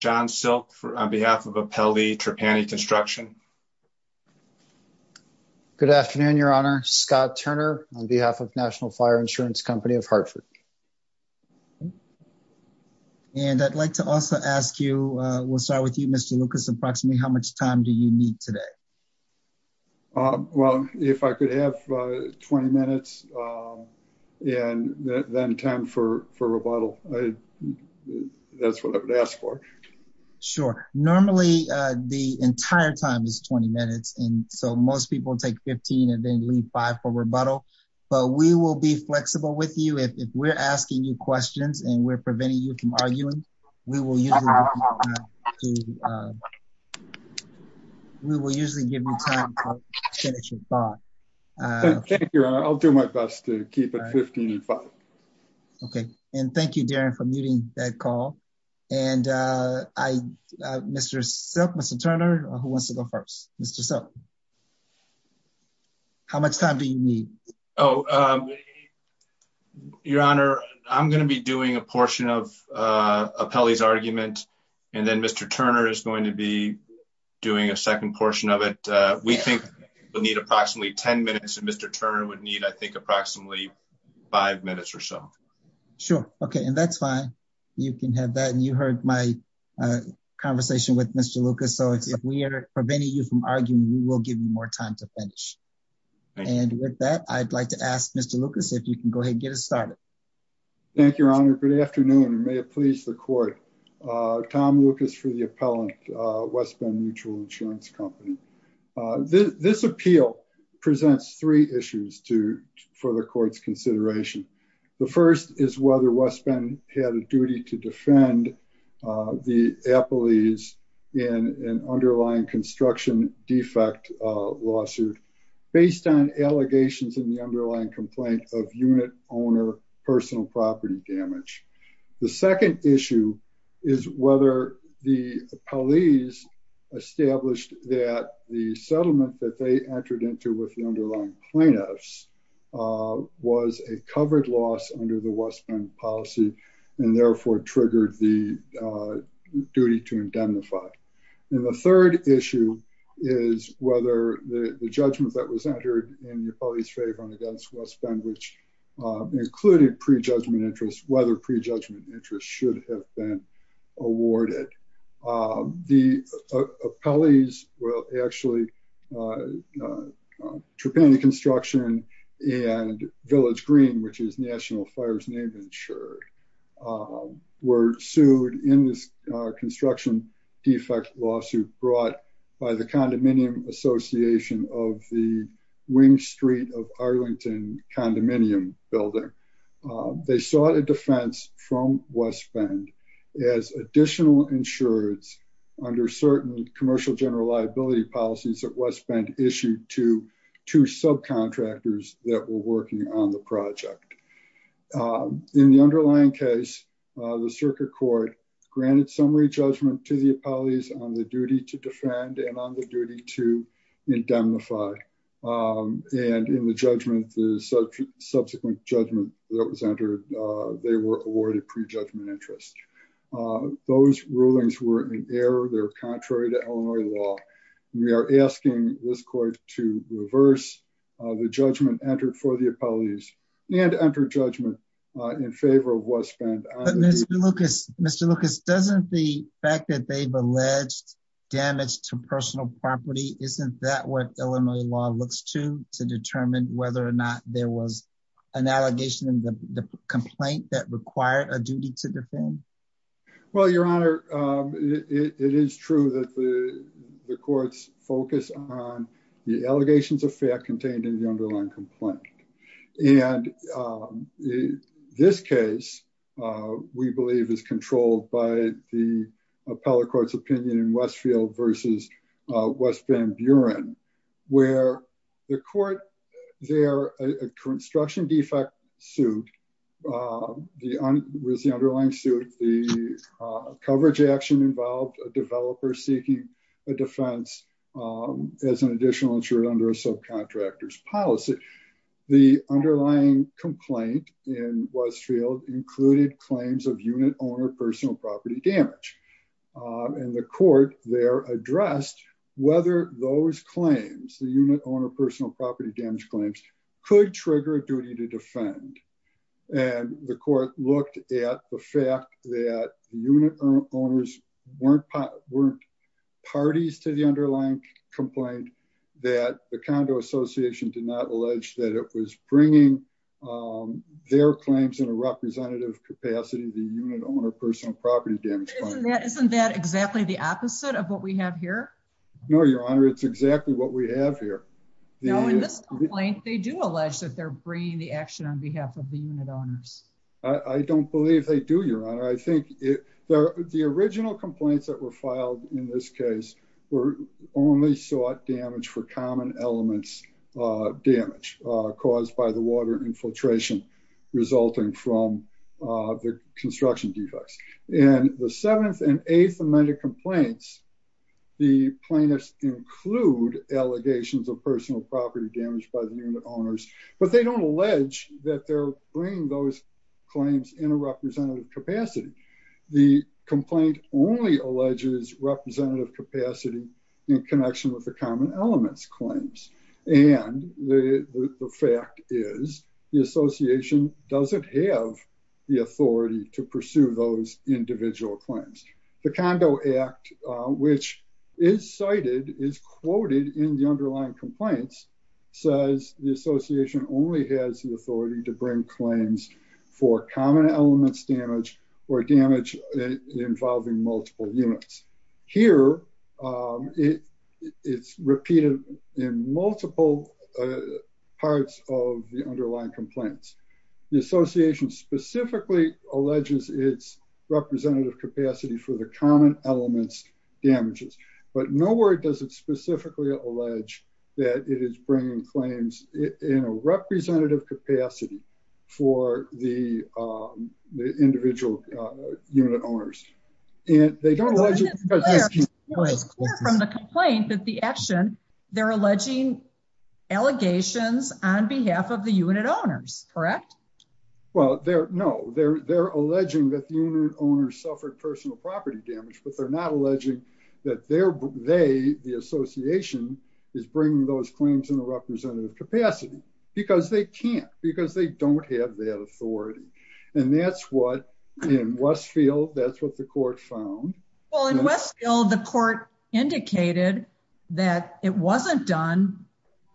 John Silk on behalf of Apelli Trapani Construction. Good afternoon, Your Honor. Scott Turner on behalf of National Fire Insurance Company of Hartford. And I'd like to also ask you, we'll start with you, Mr. Lucas, approximately how much time do you need today? Well, if I could have 20 minutes and then time for rebuttal. That's what I would ask for. Sure. Normally, the entire time is 20 minutes. And so most people take 15 and then leave five for rebuttal. But we will be flexible with you. If we're asking you questions, and we're preventing you from arguing, we will usually give you time to finish your thought. Thank you, Your Honor. I'll do my best to keep it 15 and five. Okay. And thank you, Darren, for muting that call. And I, Mr. Silk, Mr. Turner, who wants to go first? Mr. Silk. How much time do you need? Your Honor, I'm going to be doing a portion of Apelli's argument. And then Mr. Turner is going to be doing a second portion of it. We think we'll need approximately 10 minutes and Mr. Turner would think approximately five minutes or so. Sure. Okay. And that's fine. You can have that. And you heard my conversation with Mr. Lucas. So if we are preventing you from arguing, we will give you more time to finish. And with that, I'd like to ask Mr. Lucas, if you can go ahead and get us started. Thank you, Your Honor. Good afternoon, and may it please the court. Tom Lucas for the appellant, West Bend Mutual Insurance Company. This appeal presents three issues for the court's consideration. The first is whether West Bend had a duty to defend the appellees in an underlying construction defect lawsuit based on allegations in the underlying complaint of unit owner personal property damage. The second issue is whether the appellees established that the settlement that they entered into with the underlying plaintiffs was a covered loss under the West Bend policy and therefore triggered the duty to indemnify. And the third issue is whether the judgment that was entered in the appellee's favor against West Bend, which included prejudgment interest, whether prejudgment interest should have been awarded. The appellees, well, actually, Trapani Construction and Village Green, which is National Fire's name insured, were sued in this construction defect lawsuit brought by the Condominium Association of the street of Arlington condominium building. They sought a defense from West Bend as additional insurance under certain commercial general liability policies that West Bend issued to two subcontractors that were working on the project. In the underlying case, the circuit court granted summary judgment to the appellees on the duty to defend and on the duty to indemnify. And in the judgment, the subsequent judgment that was entered, they were awarded prejudgment interest. Those rulings were in error. They're contrary to Illinois law. We are asking this court to reverse the judgment entered for the appellees and enter judgment in favor of West Bend. Mr. Lucas, Mr. Lucas, doesn't the fact that they've alleged damage to personal property, isn't that what Illinois law looks to to determine whether or not there was an allegation in the complaint that required a duty to defend? Well, Your Honor, it is true that the courts focus on the allegations of fact contained in the underlying complaint. And this case, we believe is controlled by the appellate court's opinion in Westfield versus West Bend Buren, where the court there, a construction defect suit, the underlying suit, the coverage action involved a developer seeking a defense as an additional insured under a subcontractor's policy. The underlying complaint in Westfield included claims of unit owner, personal property damage. And the court there addressed whether those claims, the unit owner, personal property damage claims could trigger a duty to defend. And the court looked at the fact that unit owners weren't parties to the underlying complaint that the condo association did not allege that it was bringing their claims in a representative capacity, the unit owner, personal property damage. Isn't that exactly the opposite of what we have here? No, Your Honor. It's exactly what we have here. They do allege that they're bringing the action on behalf of the unit owners. I don't believe they do, Your Honor. I think the original complaints that were filed in this case were only sought damage for common elements damage caused by the water infiltration resulting from the construction defects. And the seventh and eighth amended complaints, the plaintiffs include allegations of personal property damage by the unit owners, but they don't allege that they're bringing those claims in a representative capacity. The complaint only alleges representative capacity in connection with the common elements claims. And the fact is the association doesn't have the authority to pursue those individual claims. The condo act, which is cited, is quoted in the underlying complaints, says the association only has the authority to bring claims for common elements damage or damage involving multiple units. Here, it's repeated in multiple parts of the underlying complaints. The association specifically alleges its representative capacity for the common elements damages, but nowhere does it specifically allege that it is bringing claims in a representative capacity for the individual unit owners. And they don't- It's clear from the complaint that the action, they're alleging allegations on behalf of the unit owners, correct? Well, no, they're alleging that the unit owners suffered personal property damage, but they're not alleging that they, the association, is bringing those claims in a representative capacity because they can't, because they don't have that authority. And that's what, in Westfield, that's what the court found. Well, in Westfield, the court indicated that it wasn't done,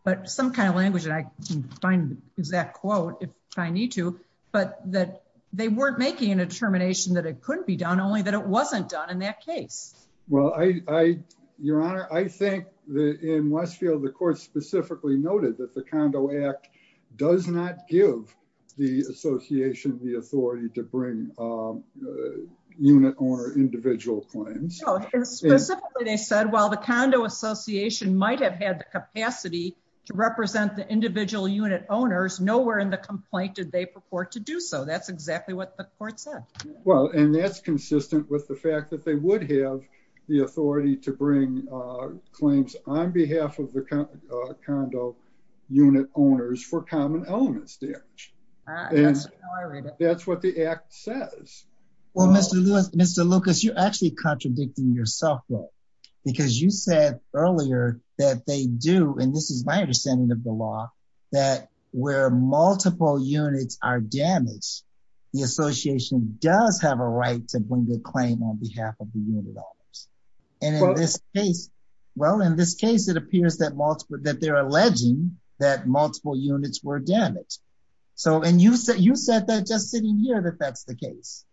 but some kind of language, and I can find the exact quote if I need to, but that they weren't making a determination that it couldn't be done, only that it wasn't done in that case. Well, I, your honor, I think that in Westfield, the court specifically noted that the condo act does not give the association the authority to bring unit owner individual claims. Specifically, they said, well, the condo association might have had the capacity to represent the individual unit owners. Nowhere in the complaint did they purport to do so. That's consistent with the fact that they would have the authority to bring claims on behalf of the condo unit owners for common elements damage. That's what the act says. Well, Mr. Lucas, you're actually contradicting yourself, though, because you said earlier that they do, and this is my understanding of the law, that where multiple units are damaged, the association does have a right to bring the claim on behalf of the unit owners. And in this case, well, in this case, it appears that multiple, that they're alleging that multiple units were damaged. So, and you said, you said that just sitting here, that that's the case.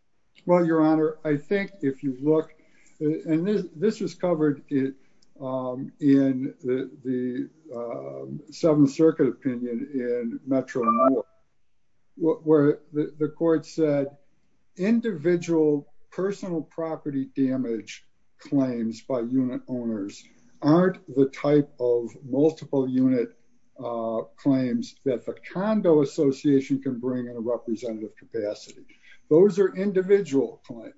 Well, your honor, I think if you look, and this was covered in the Seventh Circuit opinion in Metro North, where the court said individual personal property damage claims by unit owners aren't the type of multiple unit claims that the condo association can bring in a representative capacity. Those are individual claims.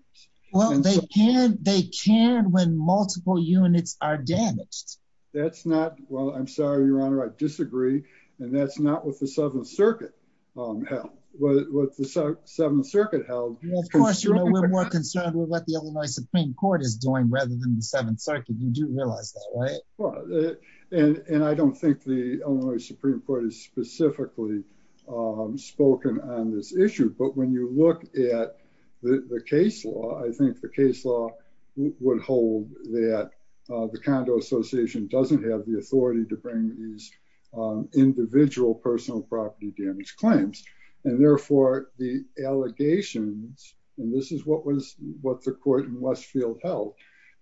Well, they can, they can when multiple units are damaged. That's not, well, I'm sorry, your honor, I disagree. And that's not what the Seventh Circuit held, what the Seventh Circuit held. Well, of course, you're a little more concerned with what the Illinois Supreme Court is doing rather than the Seventh Circuit. You do realize that, right? Well, and I don't think the Illinois Supreme Court has specifically spoken on this issue. But when you look at the case law, I think the case law would hold that the condo association doesn't have the authority to bring these individual personal property damage claims. And therefore the allegations, and this is what was what the court in Westfield held,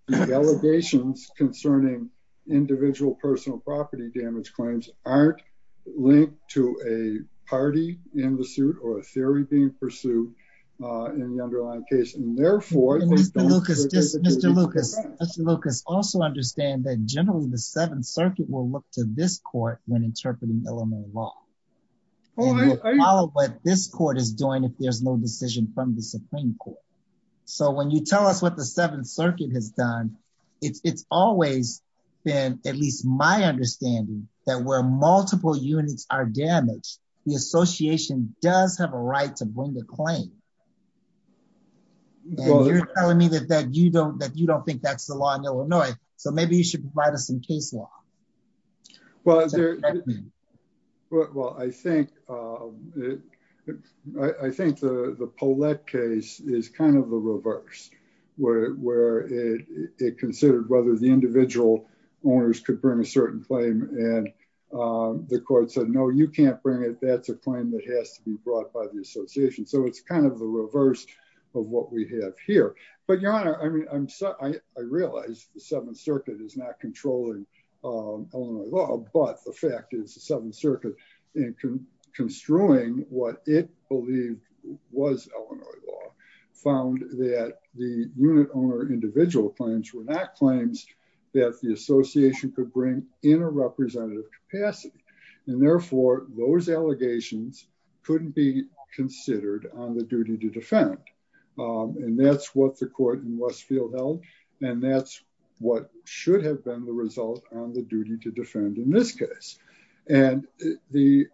the allegations concerning individual personal property damage claims aren't linked to a party in the suit or a theory being pursued in the underlying case. Therefore, Mr. Lucas also understand that generally the Seventh Circuit will look to this court when interpreting Illinois law, what this court is doing, if there's no decision from the Supreme Court. So when you tell us what the Seventh Circuit has done, it's always been, at least my understanding that where multiple units are damaged, the association does have a right to bring the claim. And you're telling me that you don't think that's the law in Illinois. So maybe you should provide us some case law. Well, I think the Paulette case is kind of the reverse where it considered whether the individual owners could bring a certain claim and the court said, no, you can't bring it. That's a claim that has to be brought by the association. So it's kind of the reverse of what we have here, but your honor, I mean, I'm sorry. I realized the Seventh Circuit is not controlling Illinois law, but the fact is the Seventh Circuit and construing what it believed was Illinois law found that the unit owner individual claims were not claims that the association could bring in a representative capacity. And therefore those allegations couldn't be considered on the duty to defend. And that's what the court in Westfield held. And that's what should have been the result on the duty to defend in this case. And the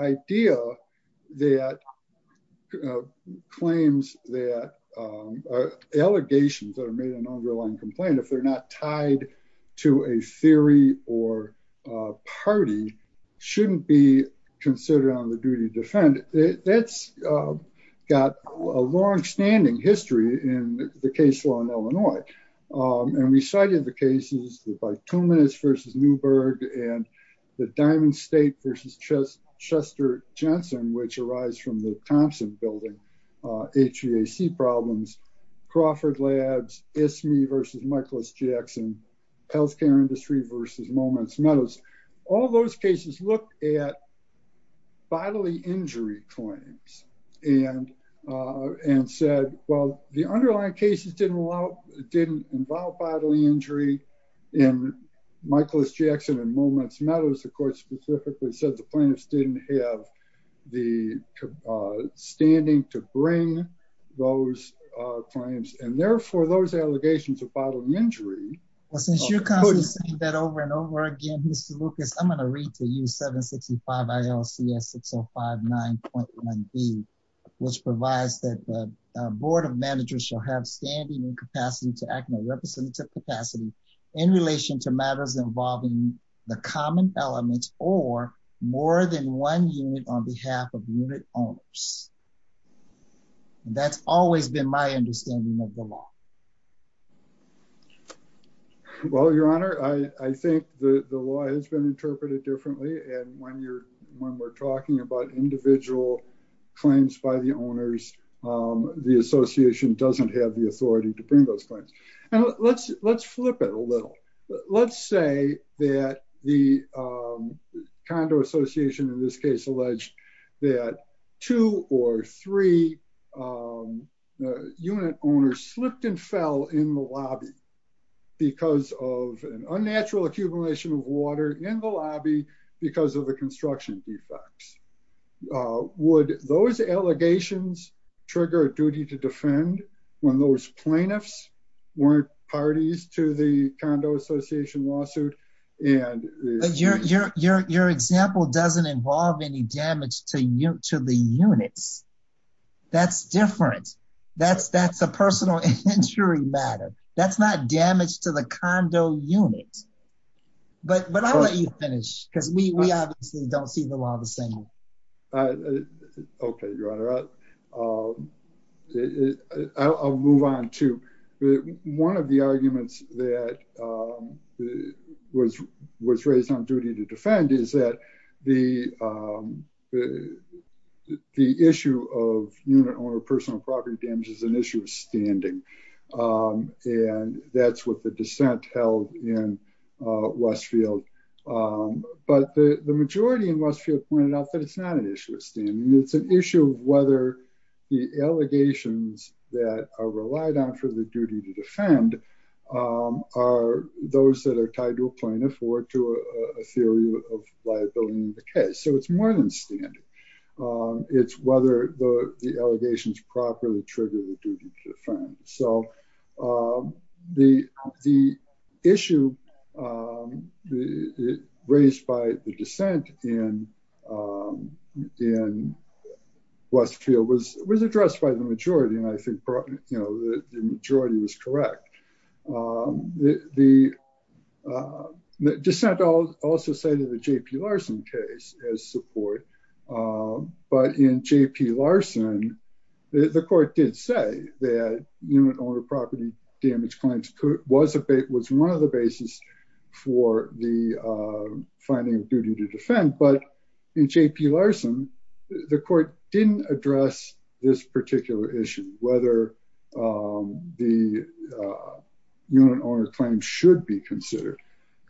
idea that claims that allegations that are made an underlying complaint, if they're not tied to a theory or a party shouldn't be considered on the duty to defend that's got a longstanding history in the case law in Illinois. And we cited the cases by two minutes versus Newberg and the Diamond State versus Chester Jensen, which arise from the Thompson building, HVAC problems, Crawford labs, ISMI versus Michaelis Jackson, healthcare industry versus moments. All those cases look at bodily injury claims and said, well, the underlying cases didn't involve bodily injury. And Michaelis Jackson and moments matters, of course, specifically said the plaintiffs didn't have the standing to bring those claims. And therefore those allegations of bodily injury. Well, since you're constantly saying that over and over again, Mr. Lucas, I'm going to read to you 765 ILCS 6059.1B, which provides that the board of managers shall have standing and capacity to act in a representative capacity in relation to matters involving the common elements or more than one unit on behalf of unit owners. That's always been my understanding of the law. Well, your honor, I think the law has been interpreted differently. And when you're, when we're talking about individual claims by the owners, the association doesn't have the authority to bring those claims. Let's flip it a little. Let's say that the condo association in this case alleged that two or three unit owners slipped and fell in the lobby because of an effect. Would those allegations trigger a duty to defend when those plaintiffs weren't parties to the condo association lawsuit? And your example doesn't involve any damage to you to the units. That's different. That's that's a personal injury matter. That's not damage to the condo units. But, but I'll let you finish because we obviously don't see the law the same. Okay, your honor. I'll move on to one of the arguments that was was raised on duty to defend is that the the issue of unit owner personal property damage is an issue of standing. And that's what the dissent held in Westfield. But the majority in Westfield pointed out that it's not an issue of standing. It's an issue of whether the allegations that are relied on for the duty to defend are those that are tied to a plaintiff or to a theory of liability in the case. It's more than standing. It's whether the allegations properly trigger the duty to defend. So the issue raised by the dissent in Westfield was was addressed by the majority. And I think you know, the majority was correct. The dissent also cited the J.P. Larson case as support. But in J.P. Larson, the court did say that unit owner property damage claims was a was one of the basis for the finding of duty to defend. But in J.P. Larson, the court didn't address this issue of whether the unit owner claims should be considered.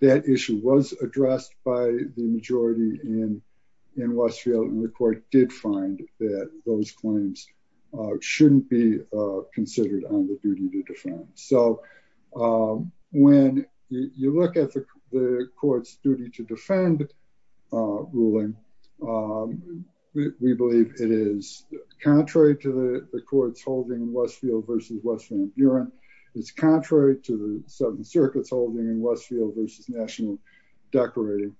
That issue was addressed by the majority in in Westfield. And the court did find that those claims shouldn't be considered on the duty to defend. So when you look at the court's duty to defend ruling, we believe it is contrary to the court's holding in Westfield v. West Van Buren. It's contrary to the 7th Circuit's holding in Westfield v. National Decorative.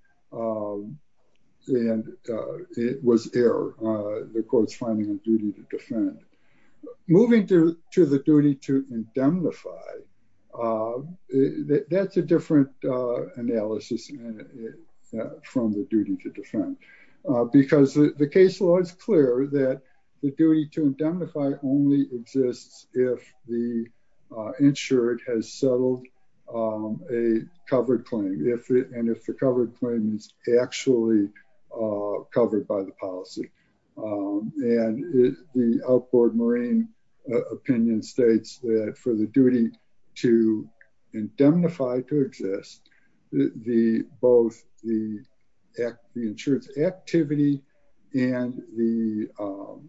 And it was error. The court's finding a duty to defend. Moving to the duty to indemnify, that's a different analysis from the duty to defend. Because the case law is clear that the duty to indemnify only exists if the insured has settled a covered claim. And if the covered claim is actually covered by the policy. And the outboard Marine opinion states that for the duty to indemnify to exist, both the insurance activity and the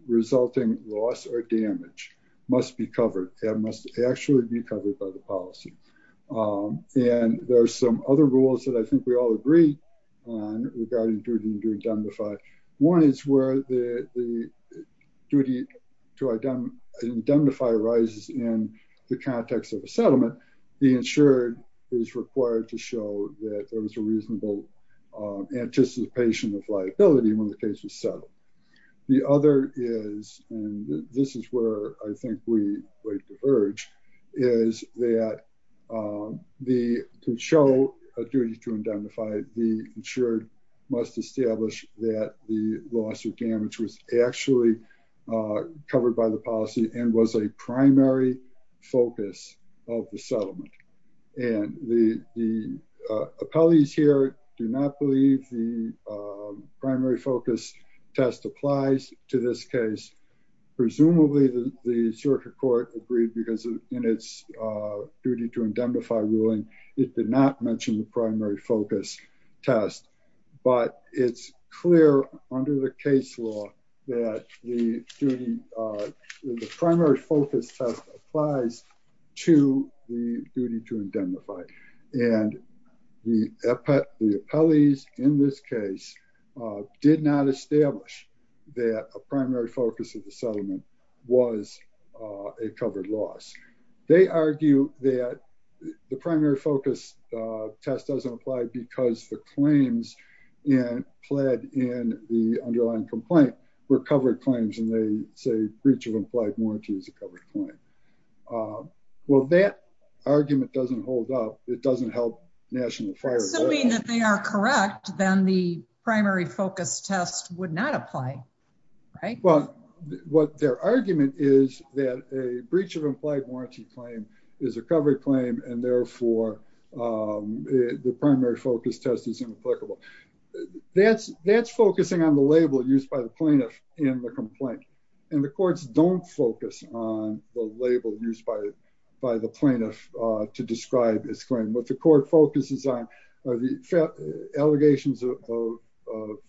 resulting loss or damage must be covered. It must actually be covered by the policy. And there are some other rules that I think we all agree on regarding duty to indemnify. One is that the duty to indemnify arises in the context of a settlement. The insured is required to show that there was a reasonable anticipation of liability when the case was settled. The other is, and this is where I think we diverge, is that to show a duty to indemnify, the insured must establish that the loss or damage was actually covered by the policy and was a primary focus of the settlement. And the appellees here do not believe the primary focus test applies to this case. Presumably the circuit court agreed because in its duty to indemnify ruling, it did not mention the primary focus test, but it's clear under the case law that the primary focus test applies to the duty to indemnify. And the appellees in this case did not establish that a primary focus of the settlement was a covered loss. They argue that the primary focus test doesn't apply because the claims and pled in the underlying complaint were covered claims. And they say breach of implied warranty is a covered point. Well, that argument doesn't hold up. It doesn't help national fire. Assuming that they are correct, then the right. Well, what their argument is that a breach of implied warranty claim is a covered claim. And therefore the primary focus test is inapplicable. That's, that's focusing on the label used by the plaintiff in the complaint. And the courts don't focus on the label used by, by the plaintiff to describe his claim. What the court focuses on are the allegations of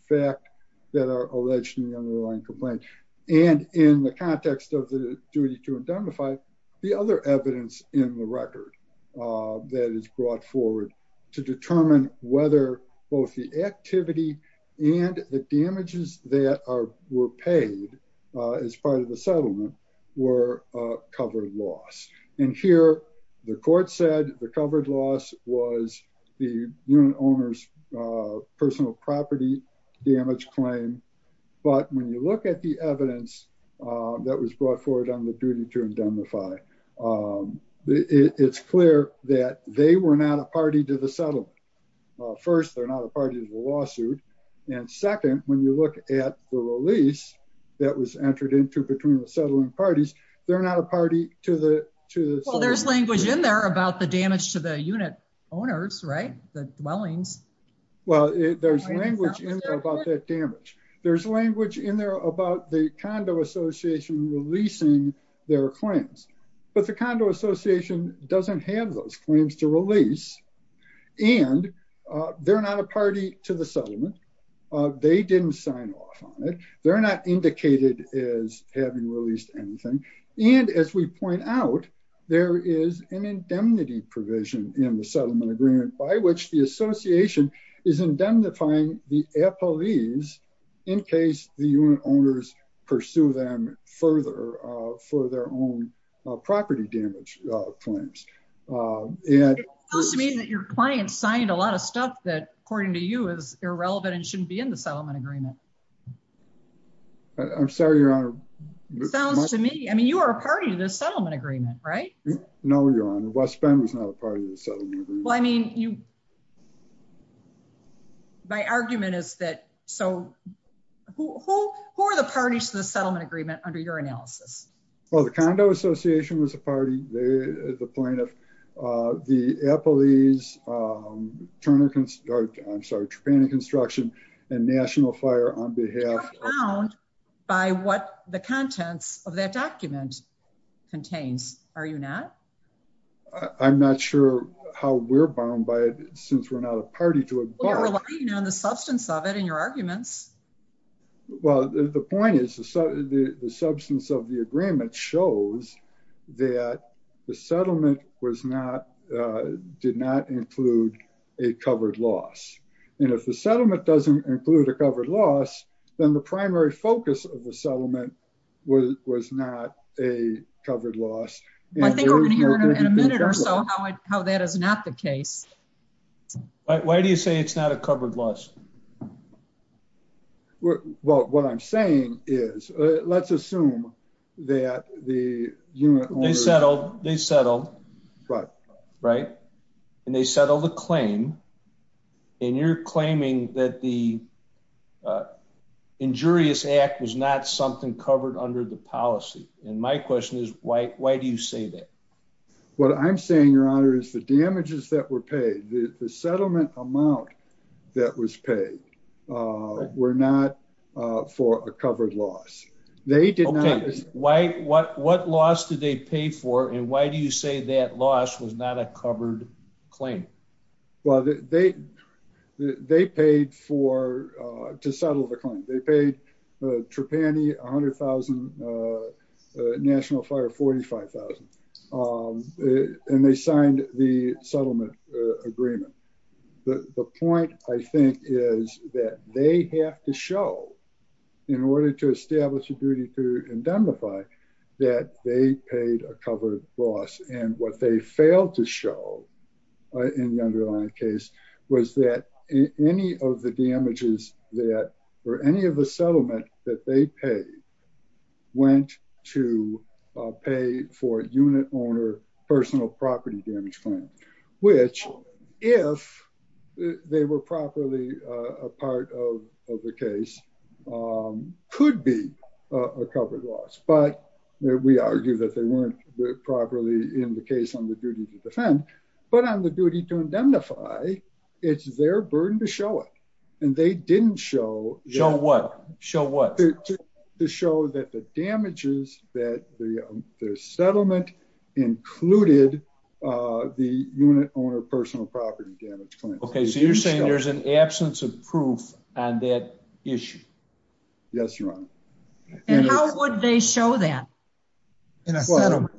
fact that are allegedly underlying complaint. And in the context of the duty to indemnify the other evidence in the record that is brought forward to determine whether both the activity and the damages that are, were paid as part of the settlement were covered loss. And here the court said the covered loss was the owner's personal property damage claim. But when you look at the evidence that was brought forward on the duty to indemnify, it's clear that they were not a party to the settlement. First, they're not a party to the lawsuit. And second, when you look at the release that was entered into between the language in there about the damage to the unit owners, right? The dwellings. Well, there's language in there about that damage. There's language in there about the condo association releasing their claims, but the condo association doesn't have those claims to release. And they're not a party to the settlement. They didn't sign off on it. They're not an indemnity provision in the settlement agreement by which the association is indemnifying the employees in case the unit owners pursue them further for their own property damage claims. It sounds to me that your client signed a lot of stuff that according to you is irrelevant and shouldn't be in the settlement agreement. I'm sorry, Your Honor. It sounds to me, you are a party to the settlement agreement, right? No, Your Honor. West Bend was not a party to the settlement agreement. Well, I mean, my argument is that, so who are the parties to the settlement agreement under your analysis? Well, the condo association was a party. They are the plaintiff. The Eppley's, I'm sorry, Tapani Construction and National Fire on behalf- The contents of that document contains, are you not? I'm not sure how we're bound by it since we're not a party to it. You're relying on the substance of it in your arguments. Well, the point is the substance of the agreement shows that the settlement was not, did not include a covered loss. And if the settlement doesn't include a covered loss, then the primary focus of the settlement was not a covered loss. I think we're going to hear in a minute or so how that is not the case. Why do you say it's not a covered loss? Well, what I'm saying is, let's assume that the unit- They settled, they settled, right? And they settled the claim and you're claiming that the injurious act was not something covered under the policy. And my question is, why do you say that? What I'm saying, your honor, is the damages that were paid, the settlement amount that was paid were not for a covered loss. They did not- Okay, what loss did they pay for and why do you say that loss was not a covered claim? Well, they paid for, to settle the claim, they paid Trepani 100,000, National Fire 45,000. And they signed the settlement agreement. The point, I think, is that they have to show, in order to establish a duty to indemnify, that they paid a covered loss. And what they failed to show, in the underlying case, was that any of the damages that, or any of the settlement that they paid, went to pay for a unit owner personal property damage claim. Which, if they were properly a part of the case, could be a covered loss. But we argue that they weren't properly in the case on the duty to defend. But on the duty to indemnify, it's their burden to show it. And they didn't show- Show what? Show what? Their settlement included the unit owner personal property damage claim. Okay, so you're saying there's an absence of proof on that issue? Yes, Your Honor. And how would they show that? In a settlement?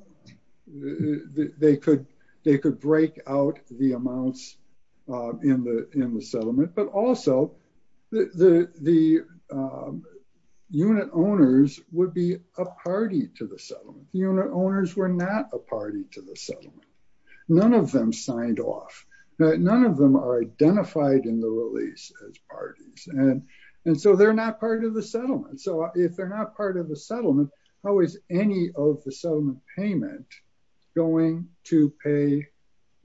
They could break out the amounts in the settlement. But also, the unit owners would be a party to the settlement. The unit owners were not a party to the settlement. None of them signed off. None of them are identified in the release as parties. And so, they're not part of the settlement. So, if they're not part of the settlement, how is any of the settlement payment going to pay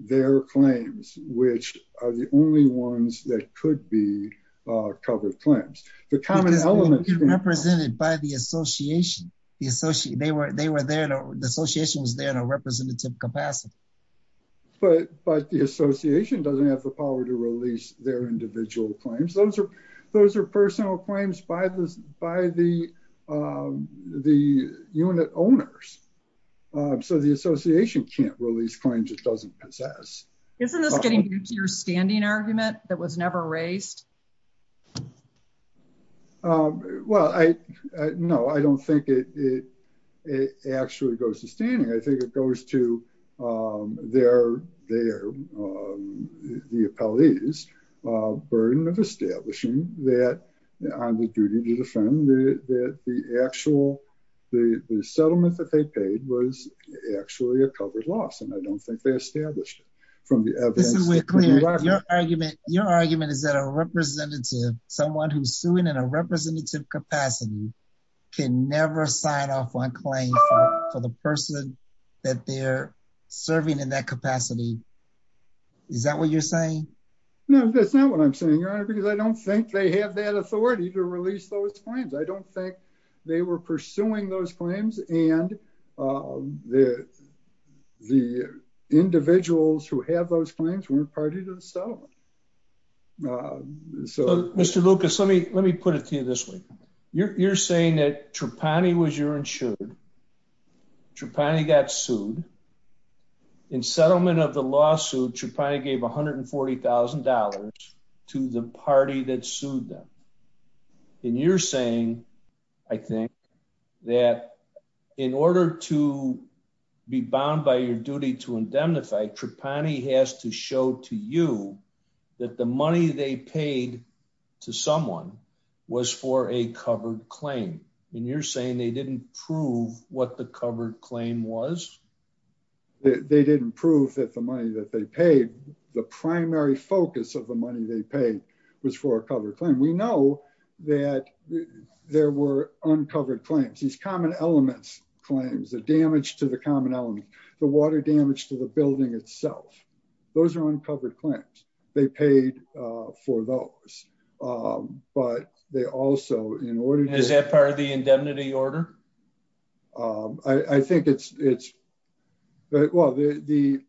their claims, which are the only ones that could be covered claims? The common element- Represented by the association. The association was there in a representative capacity. But the association doesn't have the power to release their individual claims. Those are personal claims by the unit owners. So, the association can't release claims it doesn't possess. Isn't this getting new to your standing argument that was never raised? Well, no, I don't think it actually goes to standing. I think it goes to the appellees' burden of establishing that on the duty to defend that the actual the settlement that they paid was actually a covered loss. And I don't think they established it from the evidence. Your argument is that a representative, someone who's suing in a representative capacity, can never sign off on claim for the person that they're suing. Is that what you're saying? No, that's not what I'm saying, Your Honor, because I don't think they have that authority to release those claims. I don't think they were pursuing those claims and the individuals who have those claims weren't part of the settlement. So, Mr. Lucas, let me put it to you this way. You're saying that Trapani was your insured, Trapani got sued. In settlement of the lawsuit, Trapani gave $140,000 to the party that sued them. And you're saying, I think, that in order to be bound by your duty to indemnify, Trapani has to show to you that the money they paid to someone was for a covered claim. And you're saying they didn't prove what the covered claim was? They didn't prove that the money that they paid, the primary focus of the money they paid was for a covered claim. We know that there were uncovered claims, these common elements claims, the damage to the common element, the water damage to the building itself. Those are uncovered claims. They paid for those. But they also, in order to- I think it's, well, the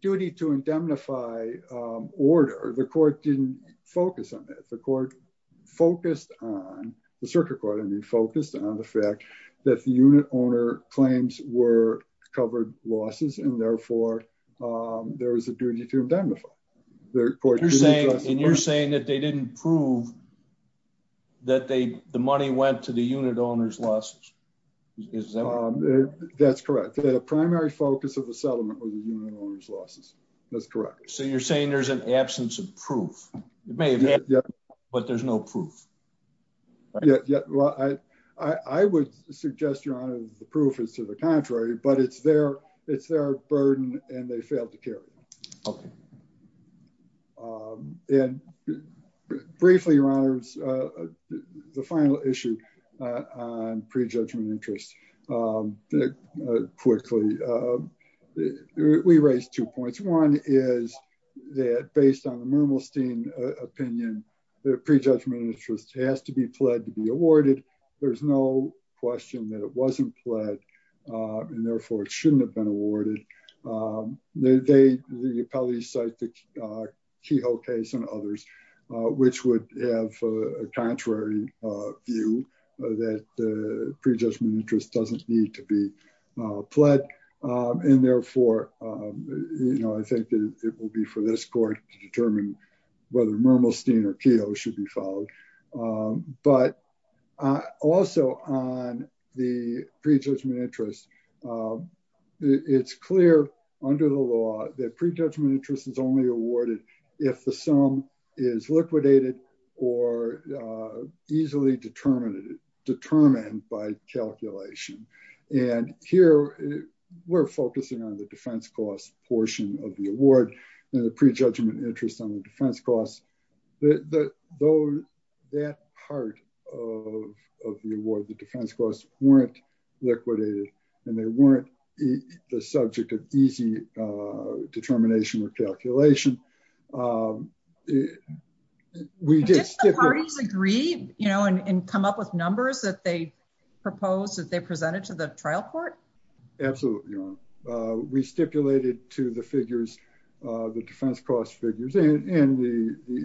duty to indemnify order, the court didn't focus on that. The court focused on, the circuit court, I mean, focused on the fact that the unit owner claims were covered losses and therefore there was a duty to indemnify. The court- And you're saying that they didn't prove that the money went to the unit owner's losses? That's correct. The primary focus of the settlement was the unit owner's losses. That's correct. So you're saying there's an absence of proof. It may have been, but there's no proof. Yeah. Well, I would suggest, Your Honor, the proof is to the contrary, but it's their burden and they failed to carry it. And briefly, Your Honor, the final issue on prejudgment interest, quickly, we raised two points. One is that based on the Mermelstein opinion, the prejudgment interest has to be pled to be awarded. There's no question that it wasn't pled and therefore it shouldn't have been awarded. The appellees cite the Kehoe case and others, which would have a contrary view that the prejudgment interest doesn't need to be pled. And therefore, I think it will be for this court to determine whether Mermelstein or Kehoe should be followed. But also on the prejudgment interest, it's clear under the law that prejudgment interest is only awarded if the sum is liquidated or easily determined by calculation. And here we're focusing on the defense cost portion of the award and the prejudgment interest on the defense costs. That part of the award, the defense costs weren't liquidated and they weren't the subject of easy determination or calculation. Did the parties agree and come up with numbers that they proposed that they presented to the trial court? Absolutely, Your Honor. We and the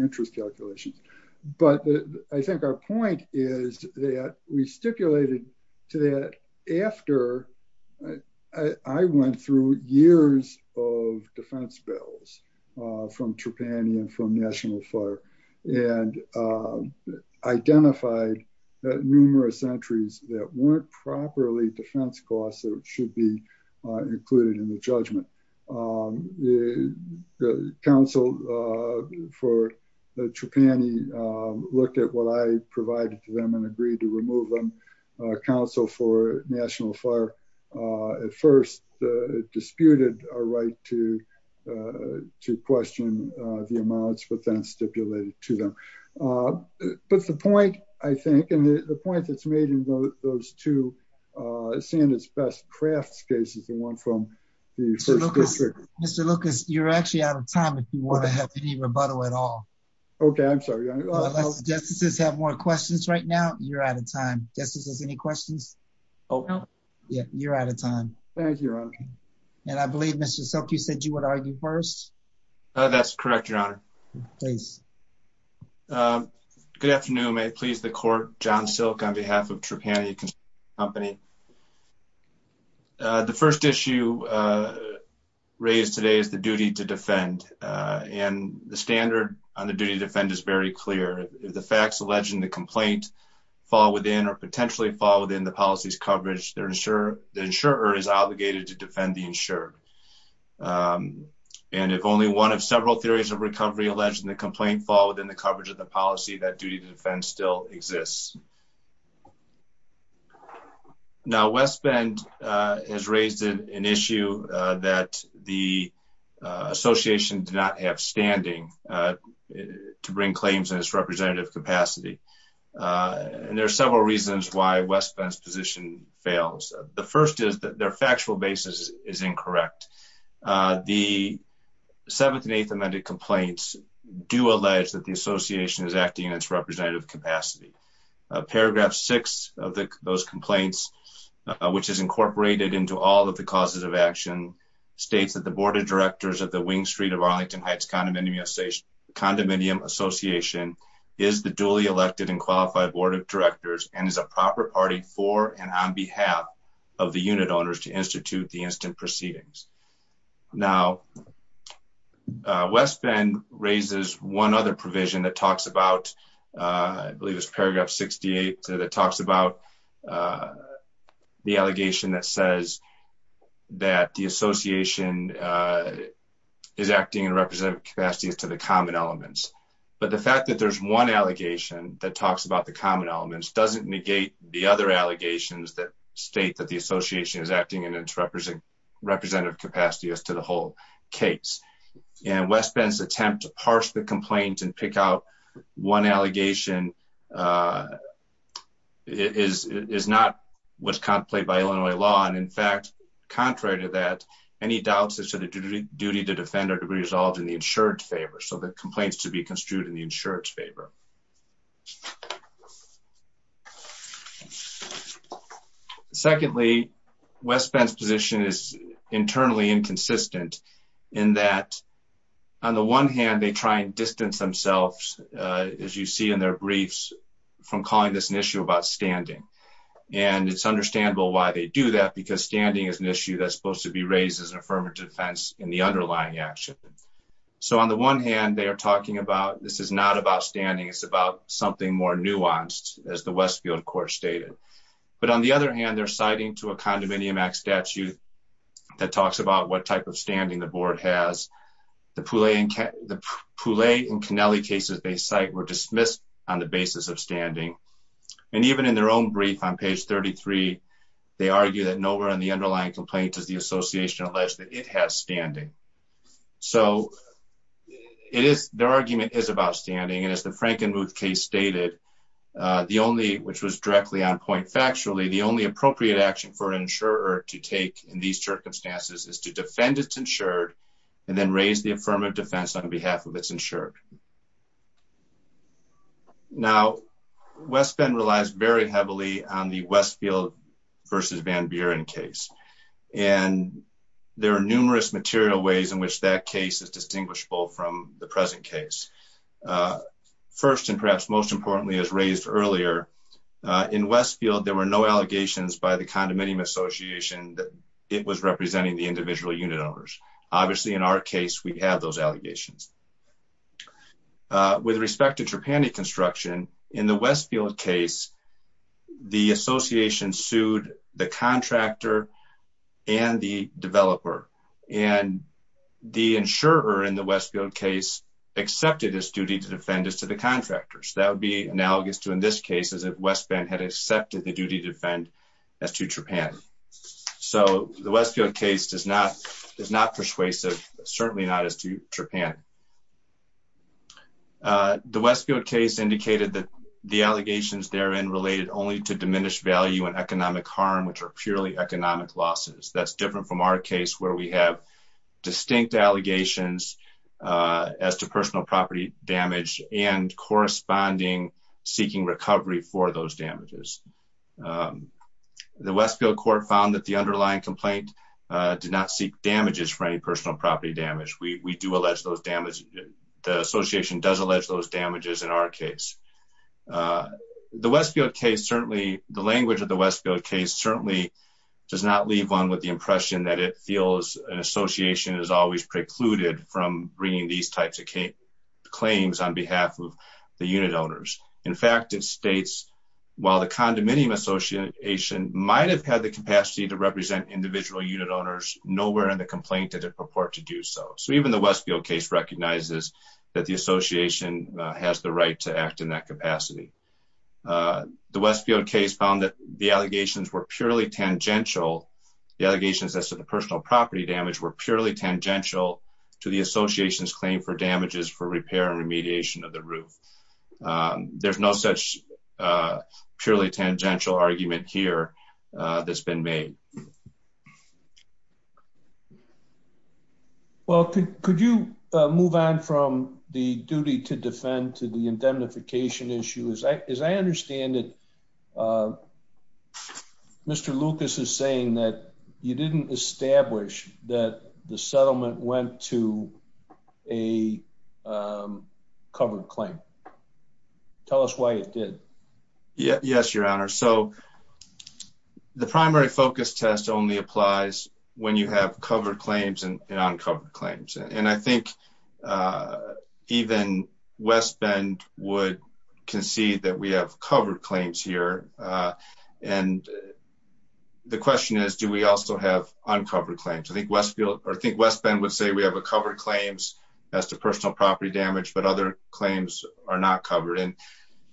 interest calculations. But I think our point is that we stipulated to that after I went through years of defense bills from Trapani and from National Fire and identified numerous entries that weren't properly defense costs that should be included in the for the Trapani, looked at what I provided to them and agreed to remove them. Council for National Fire at first disputed our right to question the amounts but then stipulated to them. But the point I think and the point that's made in those two standards best crafts cases and one from the first district. Mr. Lucas, you're actually out of time if you want to have any rebuttal at all. Okay, I'm sorry. Justices have more questions right now. You're out of time. Justices, any questions? No. Yeah, you're out of time. Thank you, Your Honor. And I believe, Mr. Silk, you said you would argue first. That's correct, Your Honor. Please. Good afternoon. May it please the court. John Silk on behalf of Trapani Company. The first issue raised today is the duty to defend. And the standard on the duty to defend is very clear. If the facts alleging the complaint fall within or potentially fall within the policy's coverage, the insurer is obligated to defend the insured. And if only one of several theories of recovery alleging the complaint fall within the coverage of the policy, that duty to defend still exists. Now, West Bend has raised an issue that the association did not have standing to bring claims in its representative capacity. And there are several reasons why West Bend's position fails. The first is that their factual basis is incorrect. The 7th and 8th amended complaints do allege that the association is acting in its representative capacity. Paragraph 6 of those complaints, which is incorporated into all of the causes of action, states that the board of directors of the Wing Street of Arlington Heights Condominium Association is the duly elected and qualified board of directors and is a proper party for and on behalf of the unit owners to institute the instant proceedings. Now, uh, West Bend raises one other provision that talks about, uh, I believe it's paragraph 68 that talks about, uh, the allegation that says that the association, uh, is acting in representative capacity as to the common elements. But the fact that there's one allegation that talks about the common elements doesn't negate the other allegations that state that the association is acting in its representative capacity as to the whole case. And West Bend's attempt to parse the complaint and pick out one allegation, uh, is, is not what's contemplated by Illinois law. And in fact, contrary to that, any doubts as to the duty to defend or to be resolved in the insurance favor. So the complaints to be construed in the insurance favor. Okay. Secondly, West Bend's position is internally inconsistent in that on the one hand, they try and distance themselves, uh, as you see in their briefs from calling this an issue about standing. And it's understandable why they do that because standing is an issue that's supposed to be raised as an affirmative defense in the underlying action. So on the one hand, they are talking about, this is not about standing. It's about something more nuanced as the Westfield court stated. But on the other hand, they're citing to a condominium act statute that talks about what type of standing the board has. The Poulet and Kennelly cases they cite were dismissed on the basis of standing. And even in their own brief on page 33, they argue that nowhere in the underlying complaint does the association allege that it has standing. So it is their argument is about standing. And as the Frankenmuth case stated, uh, the only, which was directly on point factually, the only appropriate action for an insurer to take in these circumstances is to defend it's insured and then raise the affirmative defense on behalf of it's insured. Now West relies very heavily on the Westfield versus Van Buren case. And there are numerous material ways in which that case is distinguishable from the present case. Uh, first and perhaps most importantly as raised earlier, uh, in Westfield, there were no allegations by the condominium association that it was representing the individual unit owners. Obviously in our case, we have those allegations, uh, with respect to Trapani construction in the Westfield case, the association sued the contractor and the developer and the insurer in the Westfield case accepted his duty to defend us to the contractors. That would be analogous to, in this case, as if West Bend had accepted the duty to defend as to Japan. So the Westfield case does not, is not persuasive, certainly not as to Japan. Uh, the Westfield case indicated that the allegations therein related only to diminished value and economic harm, which are purely economic losses. That's different from our case where we have distinct allegations, uh, as to personal property damage and corresponding seeking recovery for those damages. Um, the Westfield court found that the underlying complaint did not seek damages for any personal property damage. We, we do allege those damage. The association does allege those damages in our case. Uh, the Westfield case, certainly the language of the Westfield case certainly does not leave one with the impression that it feels an association is always precluded from bringing these types of claims on behalf of the unit owners. In fact, it states while the condominium association might've had the capacity to nowhere in the complaint did it purport to do so. So even the Westfield case recognizes that the association has the right to act in that capacity. Uh, the Westfield case found that the allegations were purely tangential. The allegations as to the personal property damage were purely tangential to the association's claim for damages for repair and remediation of the roof. Um, there's no such, uh, purely tangential argument here, uh, that's been made. Okay. Well, could, could you move on from the duty to defend to the indemnification issue? As I, as I understand it, uh, Mr. Lucas is saying that you didn't establish that the settlement went to a, um, covered claim. Tell us why it did. Yeah. Yes. Your honor. So the primary focus test only applies when you have covered claims and uncovered claims. And I think, uh, even West Bend would concede that we have covered claims here. Uh, and the question is, do we also have uncovered claims? I think Westfield, or I think West Bend would say we have a covered claims as to personal property damage, but other claims are not covered in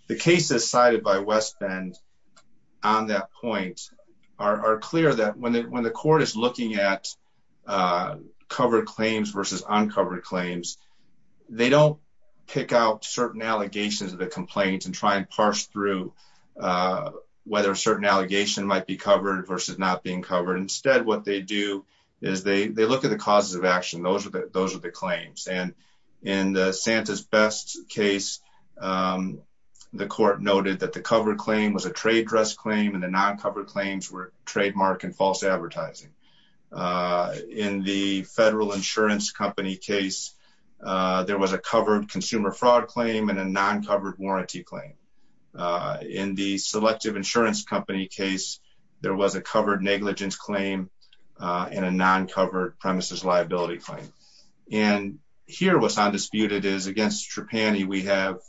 the cases cited by West Bend on that point are clear that when the, when the court is looking at, uh, covered claims versus uncovered claims, they don't pick out certain allegations of the complaints and try and parse through, uh, whether a certain allegation might be covered versus not being covered. Instead, what they do is they, they look at the causes of action. Those are the, those are the claims. And in the Santa's best case, um, the court noted that the cover claim was a trade dress claim and the non-covered claims were trademark and false advertising. Uh, in the federal insurance company case, uh, there was a covered consumer fraud claim and a non-covered warranty claim. Uh, in the selective insurance company case, there was a covered negligence claim, uh, and a non-covered premises liability claim. And here was on disputed is against Trapani. We have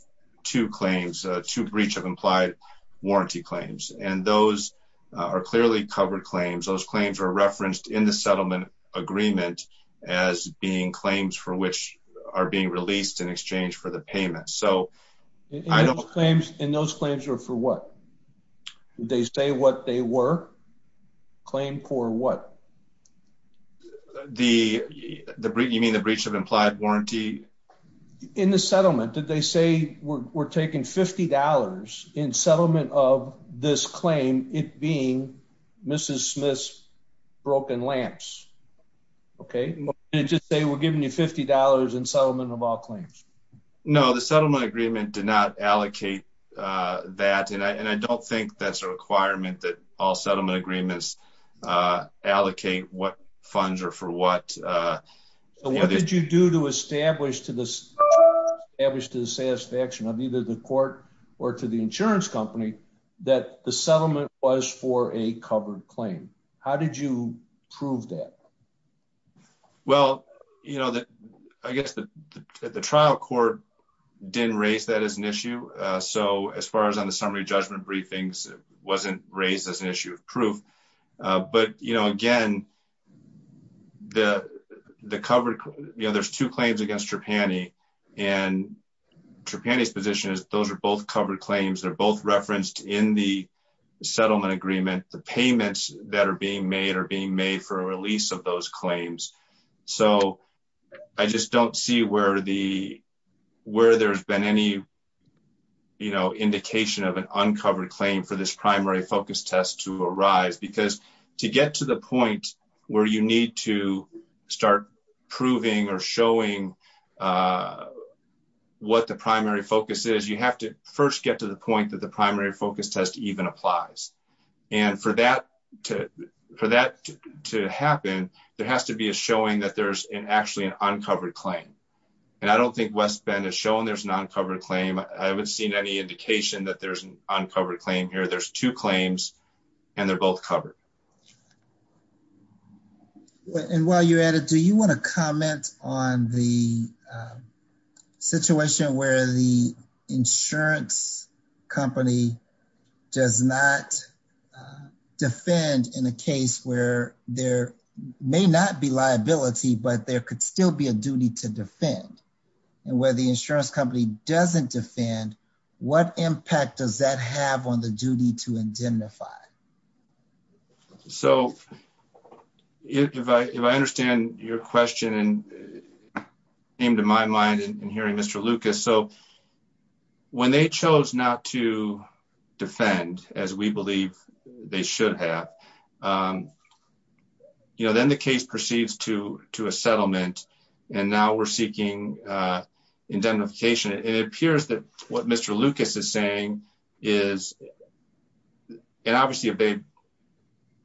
two claims, a two breach of implied warranty claims, and those are clearly covered claims. Those claims are referenced in the settlement agreement as being claims for which are being released in exchange for the payment. So I don't have claims and those claims are for what they say, what they were claimed for what the, the, you mean the breach of implied warranty in the settlement? Did they say we're taking $50 in settlement of this claim? It being Mrs. Smith's broken lamps. Okay. And just say, we're giving you $50 in settlement of all claims. No, the settlement agreement did not allocate, uh, that, and I, and I don't think that's a requirement that all settlement agreements, uh, allocate what funds are for what, uh, what did you do to establish to this average to the satisfaction of either the court or to the insurance company that the settlement was for a covered claim? How did you prove that? Well, you know, the, I guess the trial court didn't raise that as an issue. Uh, so as far as on the summary judgment briefings, it wasn't raised as an issue of proof. Uh, but you know, again, the, the covered, you know, there's two claims against Trapani and Trapani's position is those are both covered claims. They're both referenced in the settlement agreement. The So I just don't see where the, where there's been any, you know, indication of an uncovered claim for this primary focus test to arise, because to get to the point where you need to start proving or showing, uh, what the primary focus is, you have to first get to the point that the primary to happen, there has to be a showing that there's an actually an uncovered claim. And I don't think West Bend has shown there's an uncovered claim. I haven't seen any indication that there's an uncovered claim here. There's two claims and they're both covered. And while you're at it, do you want to comment on the, um, situation where the insurance company does not, uh, defend in a case where there may not be liability, but there could still be a duty to defend and where the insurance company doesn't defend what impact does that have on the duty to indemnify? So if I, if I understand your question and came to my mind in hearing Mr. Lucas, so when they chose not to defend as we believe they should have, um, you know, then the case proceeds to, to a settlement and now we're seeking, uh, indemnification. It appears that what Mr. Lucas is saying is, and obviously if they,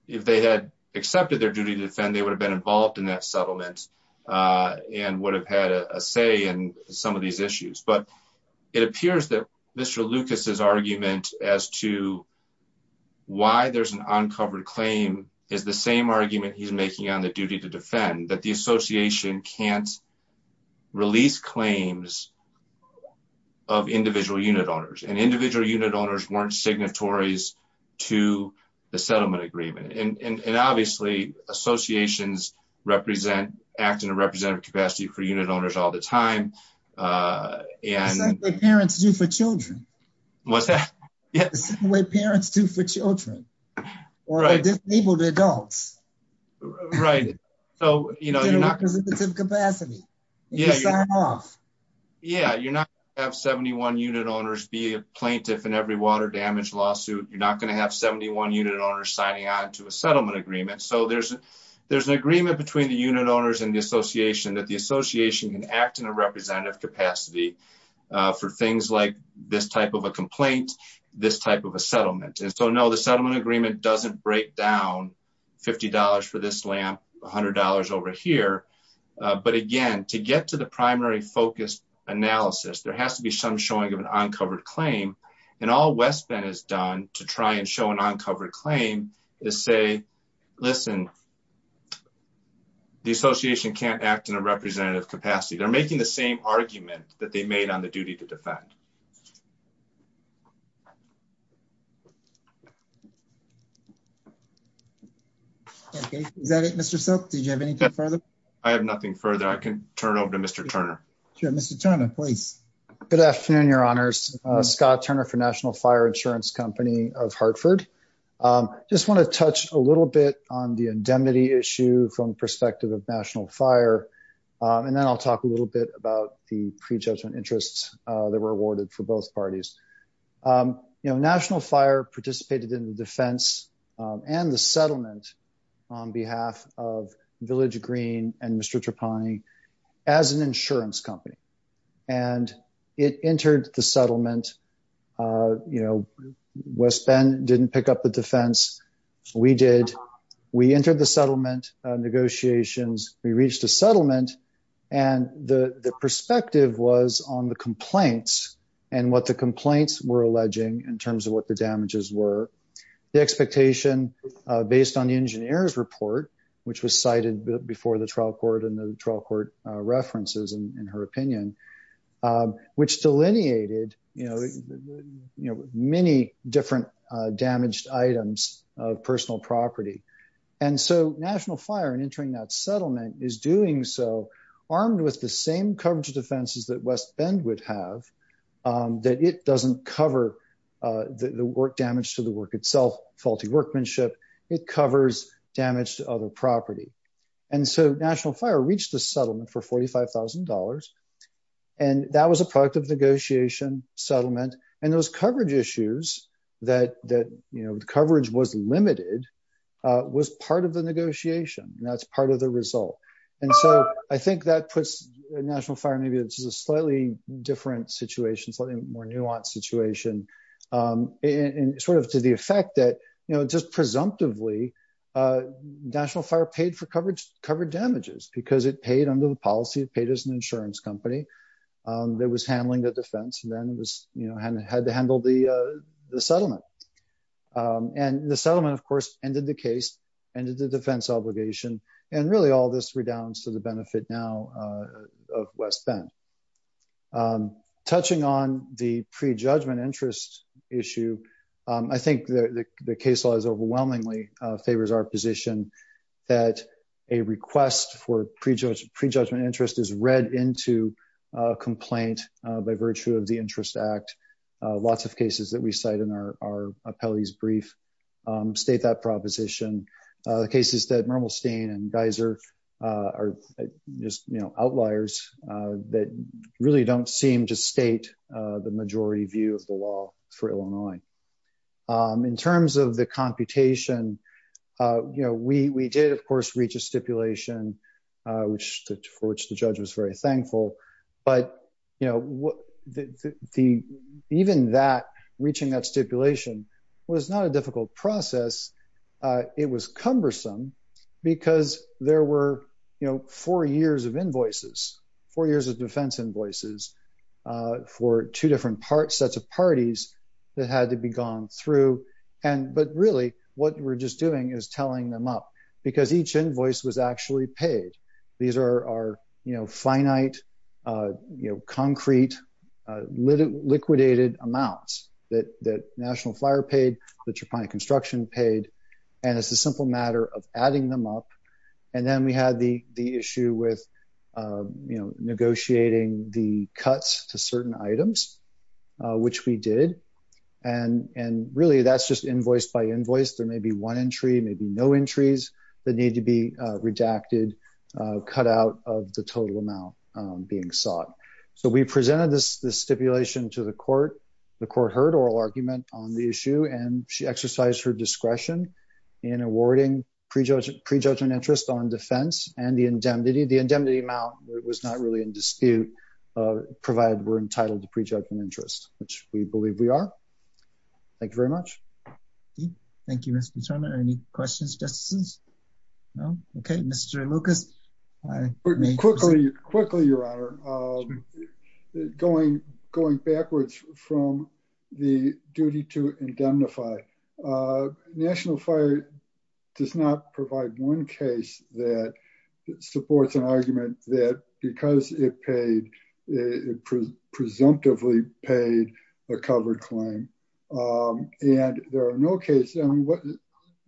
if they had accepted their duty to defend, they would have been involved in that settlement, uh, and would have had a say in some of these issues. But it appears that Mr. Lucas's argument as to why there's an uncovered claim is the same argument he's making on the duty to defend that the association can't release claims of individual unit owners and individual unit owners weren't signatories to the settlement agreement. And, and, and obviously associations represent acting a representative capacity for unit owners all the time. Uh, and parents do for children, what's that parents do for children or disabled adults, right? So, you know, you're not going to have 71 unit owners signing on to a settlement agreement. So there's an, there's an agreement between the unit owners and the association that the association can act in a representative capacity, uh, for things like this type of a complaint, this type of a settlement. And so no, the settlement agreement doesn't break down $50 for this lamp, a hundred dollars over here. Uh, but again, to get to the primary focus analysis, there has to be some showing of an uncovered claim and all West Bend has done to try and show an uncovered claim is say, listen, the association can't act in a representative capacity. They're making the same argument that they made on the duty to defend. Okay. Is that it, Mr. Silk? Did you have anything further? I have nothing further. I can turn over to Mr. Turner. Sure. Mr. Turner, please. Good afternoon, your honors, uh, Scott Turner for national fire insurance company of Hartford. Um, just want to touch a little bit on the indemnity issue from the perspective of national fire. Um, and then I'll talk a little bit about the prejudgment interests that were awarded for both parties. Um, you know, national fire participated in the defense, um, and the it entered the settlement, uh, you know, West Bend didn't pick up the defense. We did, we entered the settlement, uh, negotiations. We reached a settlement and the perspective was on the complaints and what the complaints were alleging in terms of what the damages were, the expectation, uh, based on the engineer's report, which was cited before the references in her opinion, um, which delineated, you know, you know, many different, uh, damaged items of personal property. And so national fire and entering that settlement is doing so armed with the same coverage of defenses that West Bend would have, um, that it doesn't cover, uh, the work damage to the work itself, faulty workmanship. It covers damage to other property. And so national fire reached the settlement for $45,000. And that was a product of negotiation settlement. And those coverage issues that, that, you know, the coverage was limited, uh, was part of the negotiation and that's part of the result. And so I think that puts a national fire, maybe it's a slightly different situation, something more nuanced situation, um, and sort of to the effect that, you know, just presumptively, uh, national fire paid for coverage, covered damages because it paid under the policy paid as an insurance company. Um, there was handling the defense and then it was, you know, had to handle the, uh, the settlement. Um, and the settlement of course, ended the case and did the defense obligation. And really all this redounds to the benefit now, uh, of West Bend, um, touching on the pre-judgment interest issue. Um, I think that the case law is overwhelmingly, uh, favors our position that a request for prejudged pre-judgment interest is read into a complaint, uh, by virtue of the interest act, uh, lots of cases that we cite in our, our appellees brief, um, state that proposition, uh, the cases that Mermelstein and Geiser, uh, are just, you know, outliers, uh, that really don't seem to state, uh, the majority view of the law for Illinois. Um, in terms of the computation, uh, you know, we, we did of course, reach a stipulation, uh, which for which the judge was very thankful, but you know, the, the, the, even that reaching that stipulation was not a difficult process. Uh, it was cumbersome because there were, you know, four years of invoices, four years of defense invoices, uh, for two different parts, sets of parties that had to be gone through. And, but really what we're just doing is telling them up because each invoice was actually paid. These are, are, you know, finite, uh, you know, concrete, uh, liquidated amounts that, that National Fire paid, the Trapani Construction paid, and it's a simple matter of adding them up. And then we had the, the issue with, uh, you know, negotiating the cuts to certain items, uh, which we did. And, and really that's just invoice by invoice. There may be one entry, maybe no entries that need to be, uh, redacted, uh, cut out of the total amount, um, being sought. So we presented this, this stipulation to the court, the court heard oral argument on the issue and she exercised her discretion in awarding prejudge, prejudgment interest on defense and the indemnity, the indemnity amount was not really in dispute, uh, provided we're entitled to prejudgment interest, which we believe we are. Thank you very much. Thank you, Mr. Chairman. Any questions, justices? No. Okay. Mr. Lucas. Quickly, quickly, your honor, um, going, going backwards from the duty to indemnify, uh, National Fire does not provide one case that supports an argument that because it paid, it presumptively paid a covered claim. Um, and there are no cases. I mean, what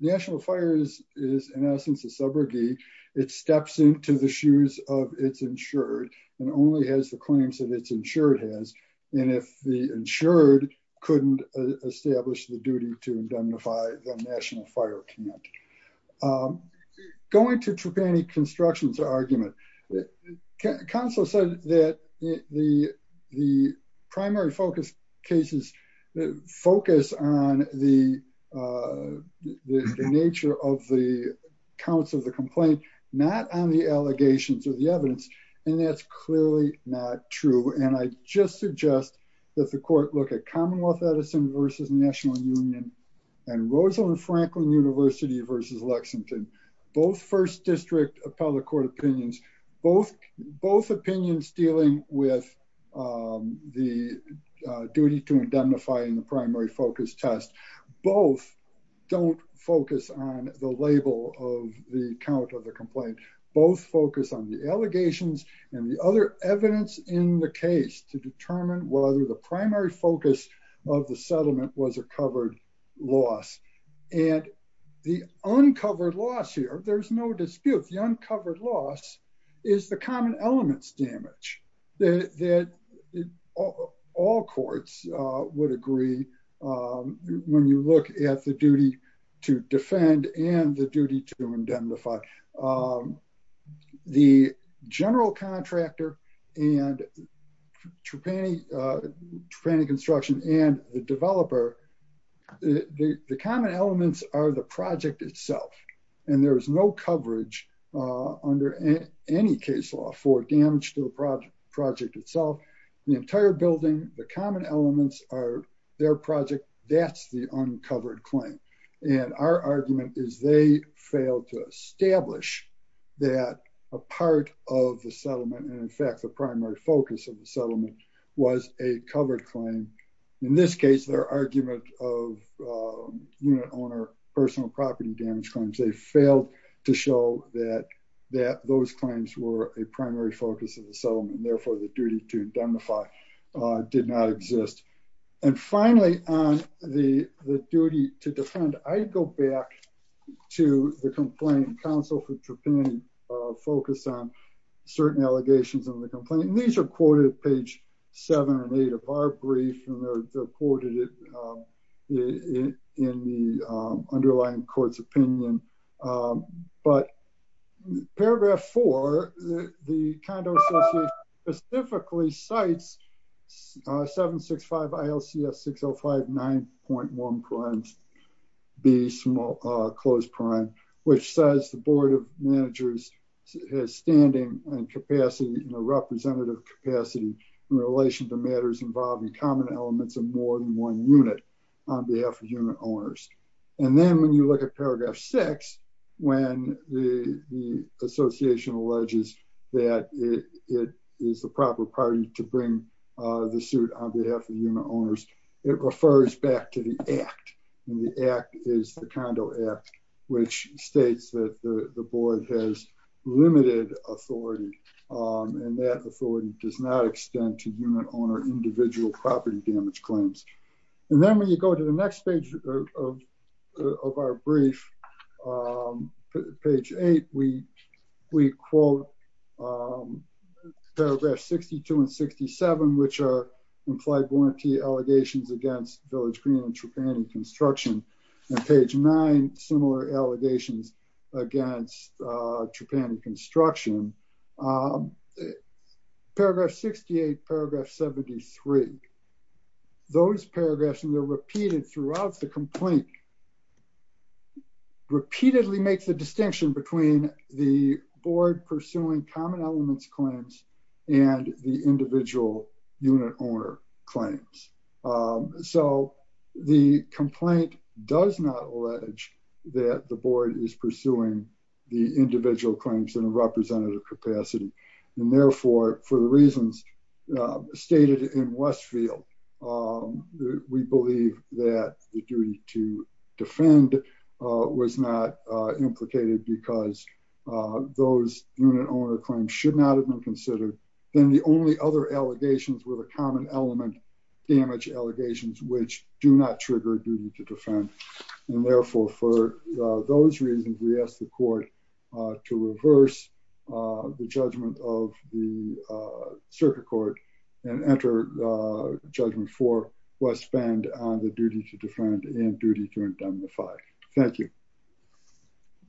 National Fire is, is in essence, a subrogate. It steps into the shoes of it's insured and only has the claims that it's insured has. And if the insured couldn't establish the duty to indemnify the National Fire Committee, um, going to Trupani Constructions argument, the council said that the, the primary focus cases focus on the, uh, the nature of the counts of the complaint, not on the allegations or the evidence. And that's clearly not true. And I just suggest that the court look at Commonwealth Edison versus National Union and Rosalynn Franklin University versus Lexington, both first district appellate court opinions, both, both opinions dealing with, um, the, uh, duty to indemnify in the primary focus test, both don't focus on the label of the count of the complaint, both focus on the allegations and the other evidence in the case to determine whether the primary focus of the settlement was a covered loss. And the uncovered loss here, there's no dispute. The uncovered loss is the common elements damage that all courts would agree. Um, when you look at the duty to defend and the duty to indemnify, um, the general contractor and Trupani, uh, Trupani construction and the developer, the common elements are the project itself. And there was no coverage, uh, under any case law for damage to the project itself, the entire building, the common elements are their project. That's the uncovered claim. And our argument is they failed to establish that a part of the settlement. And in fact, the primary focus of the settlement was a covered claim. In this case, their argument of, um, unit owner, personal property damage claims, they failed to show that, that those claims were a primary focus of the settlement. Therefore the duty to indemnify, uh, did not exist. And finally, on the duty to defend, I go back to the complaint counsel for Trupani, uh, focused on certain allegations in the complaint. And these are quoted at page seven and eight of our brief and they're, they're quoted, um, in the, um, underlying court's opinion. Um, but paragraph four, the condo specifically sites, uh, 7 6 5 ILCS 6 0 5 9.1 crimes be small, uh, close prime, which says the board of managers has standing and capacity in a representative capacity in relation to matters involving common elements of more than one unit on behalf of unit owners. And then when you look at paragraph six, when the, the association alleges that it is the proper party to bring, uh, the suit on behalf of unit owners, it refers back to the act and the act is the condo app, which states that the board has limited authority. Um, and that authority does not extend to unit owner individual property damage claims. And then when you go to the next page of our brief, um, page eight, we, we quote, um, paragraph 62 and 67, which are implied allegations against village green and Tapani construction and page nine, similar allegations against, uh, Tapani construction, um, paragraph 68, paragraph 73, those paragraphs, and they're repeated throughout the complaint repeatedly makes a distinction between the board pursuing common elements claims and the individual unit owner claims. Um, so the complaint does not allege that the board is pursuing the individual claims in a representative capacity. And therefore, for the reasons stated in Westfield, um, we believe that the duty to defend, uh, was not, uh, implicated because, uh, those unit owner claims should not have been considered than the only other allegations with a common element damage allegations, which do not trigger duty to defend. And therefore, for those reasons, we asked the court, uh, to reverse, uh, the judgment of the, uh, circuit court and enter, uh, judgment for West Bend on the duty to defend and duty to indemnify. Thank you.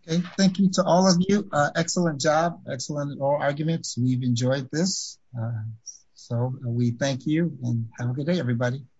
Okay. Thank you to all of you. Uh, excellent job. Excellent. All arguments. We've enjoyed this. So we thank you and have a good day, everybody.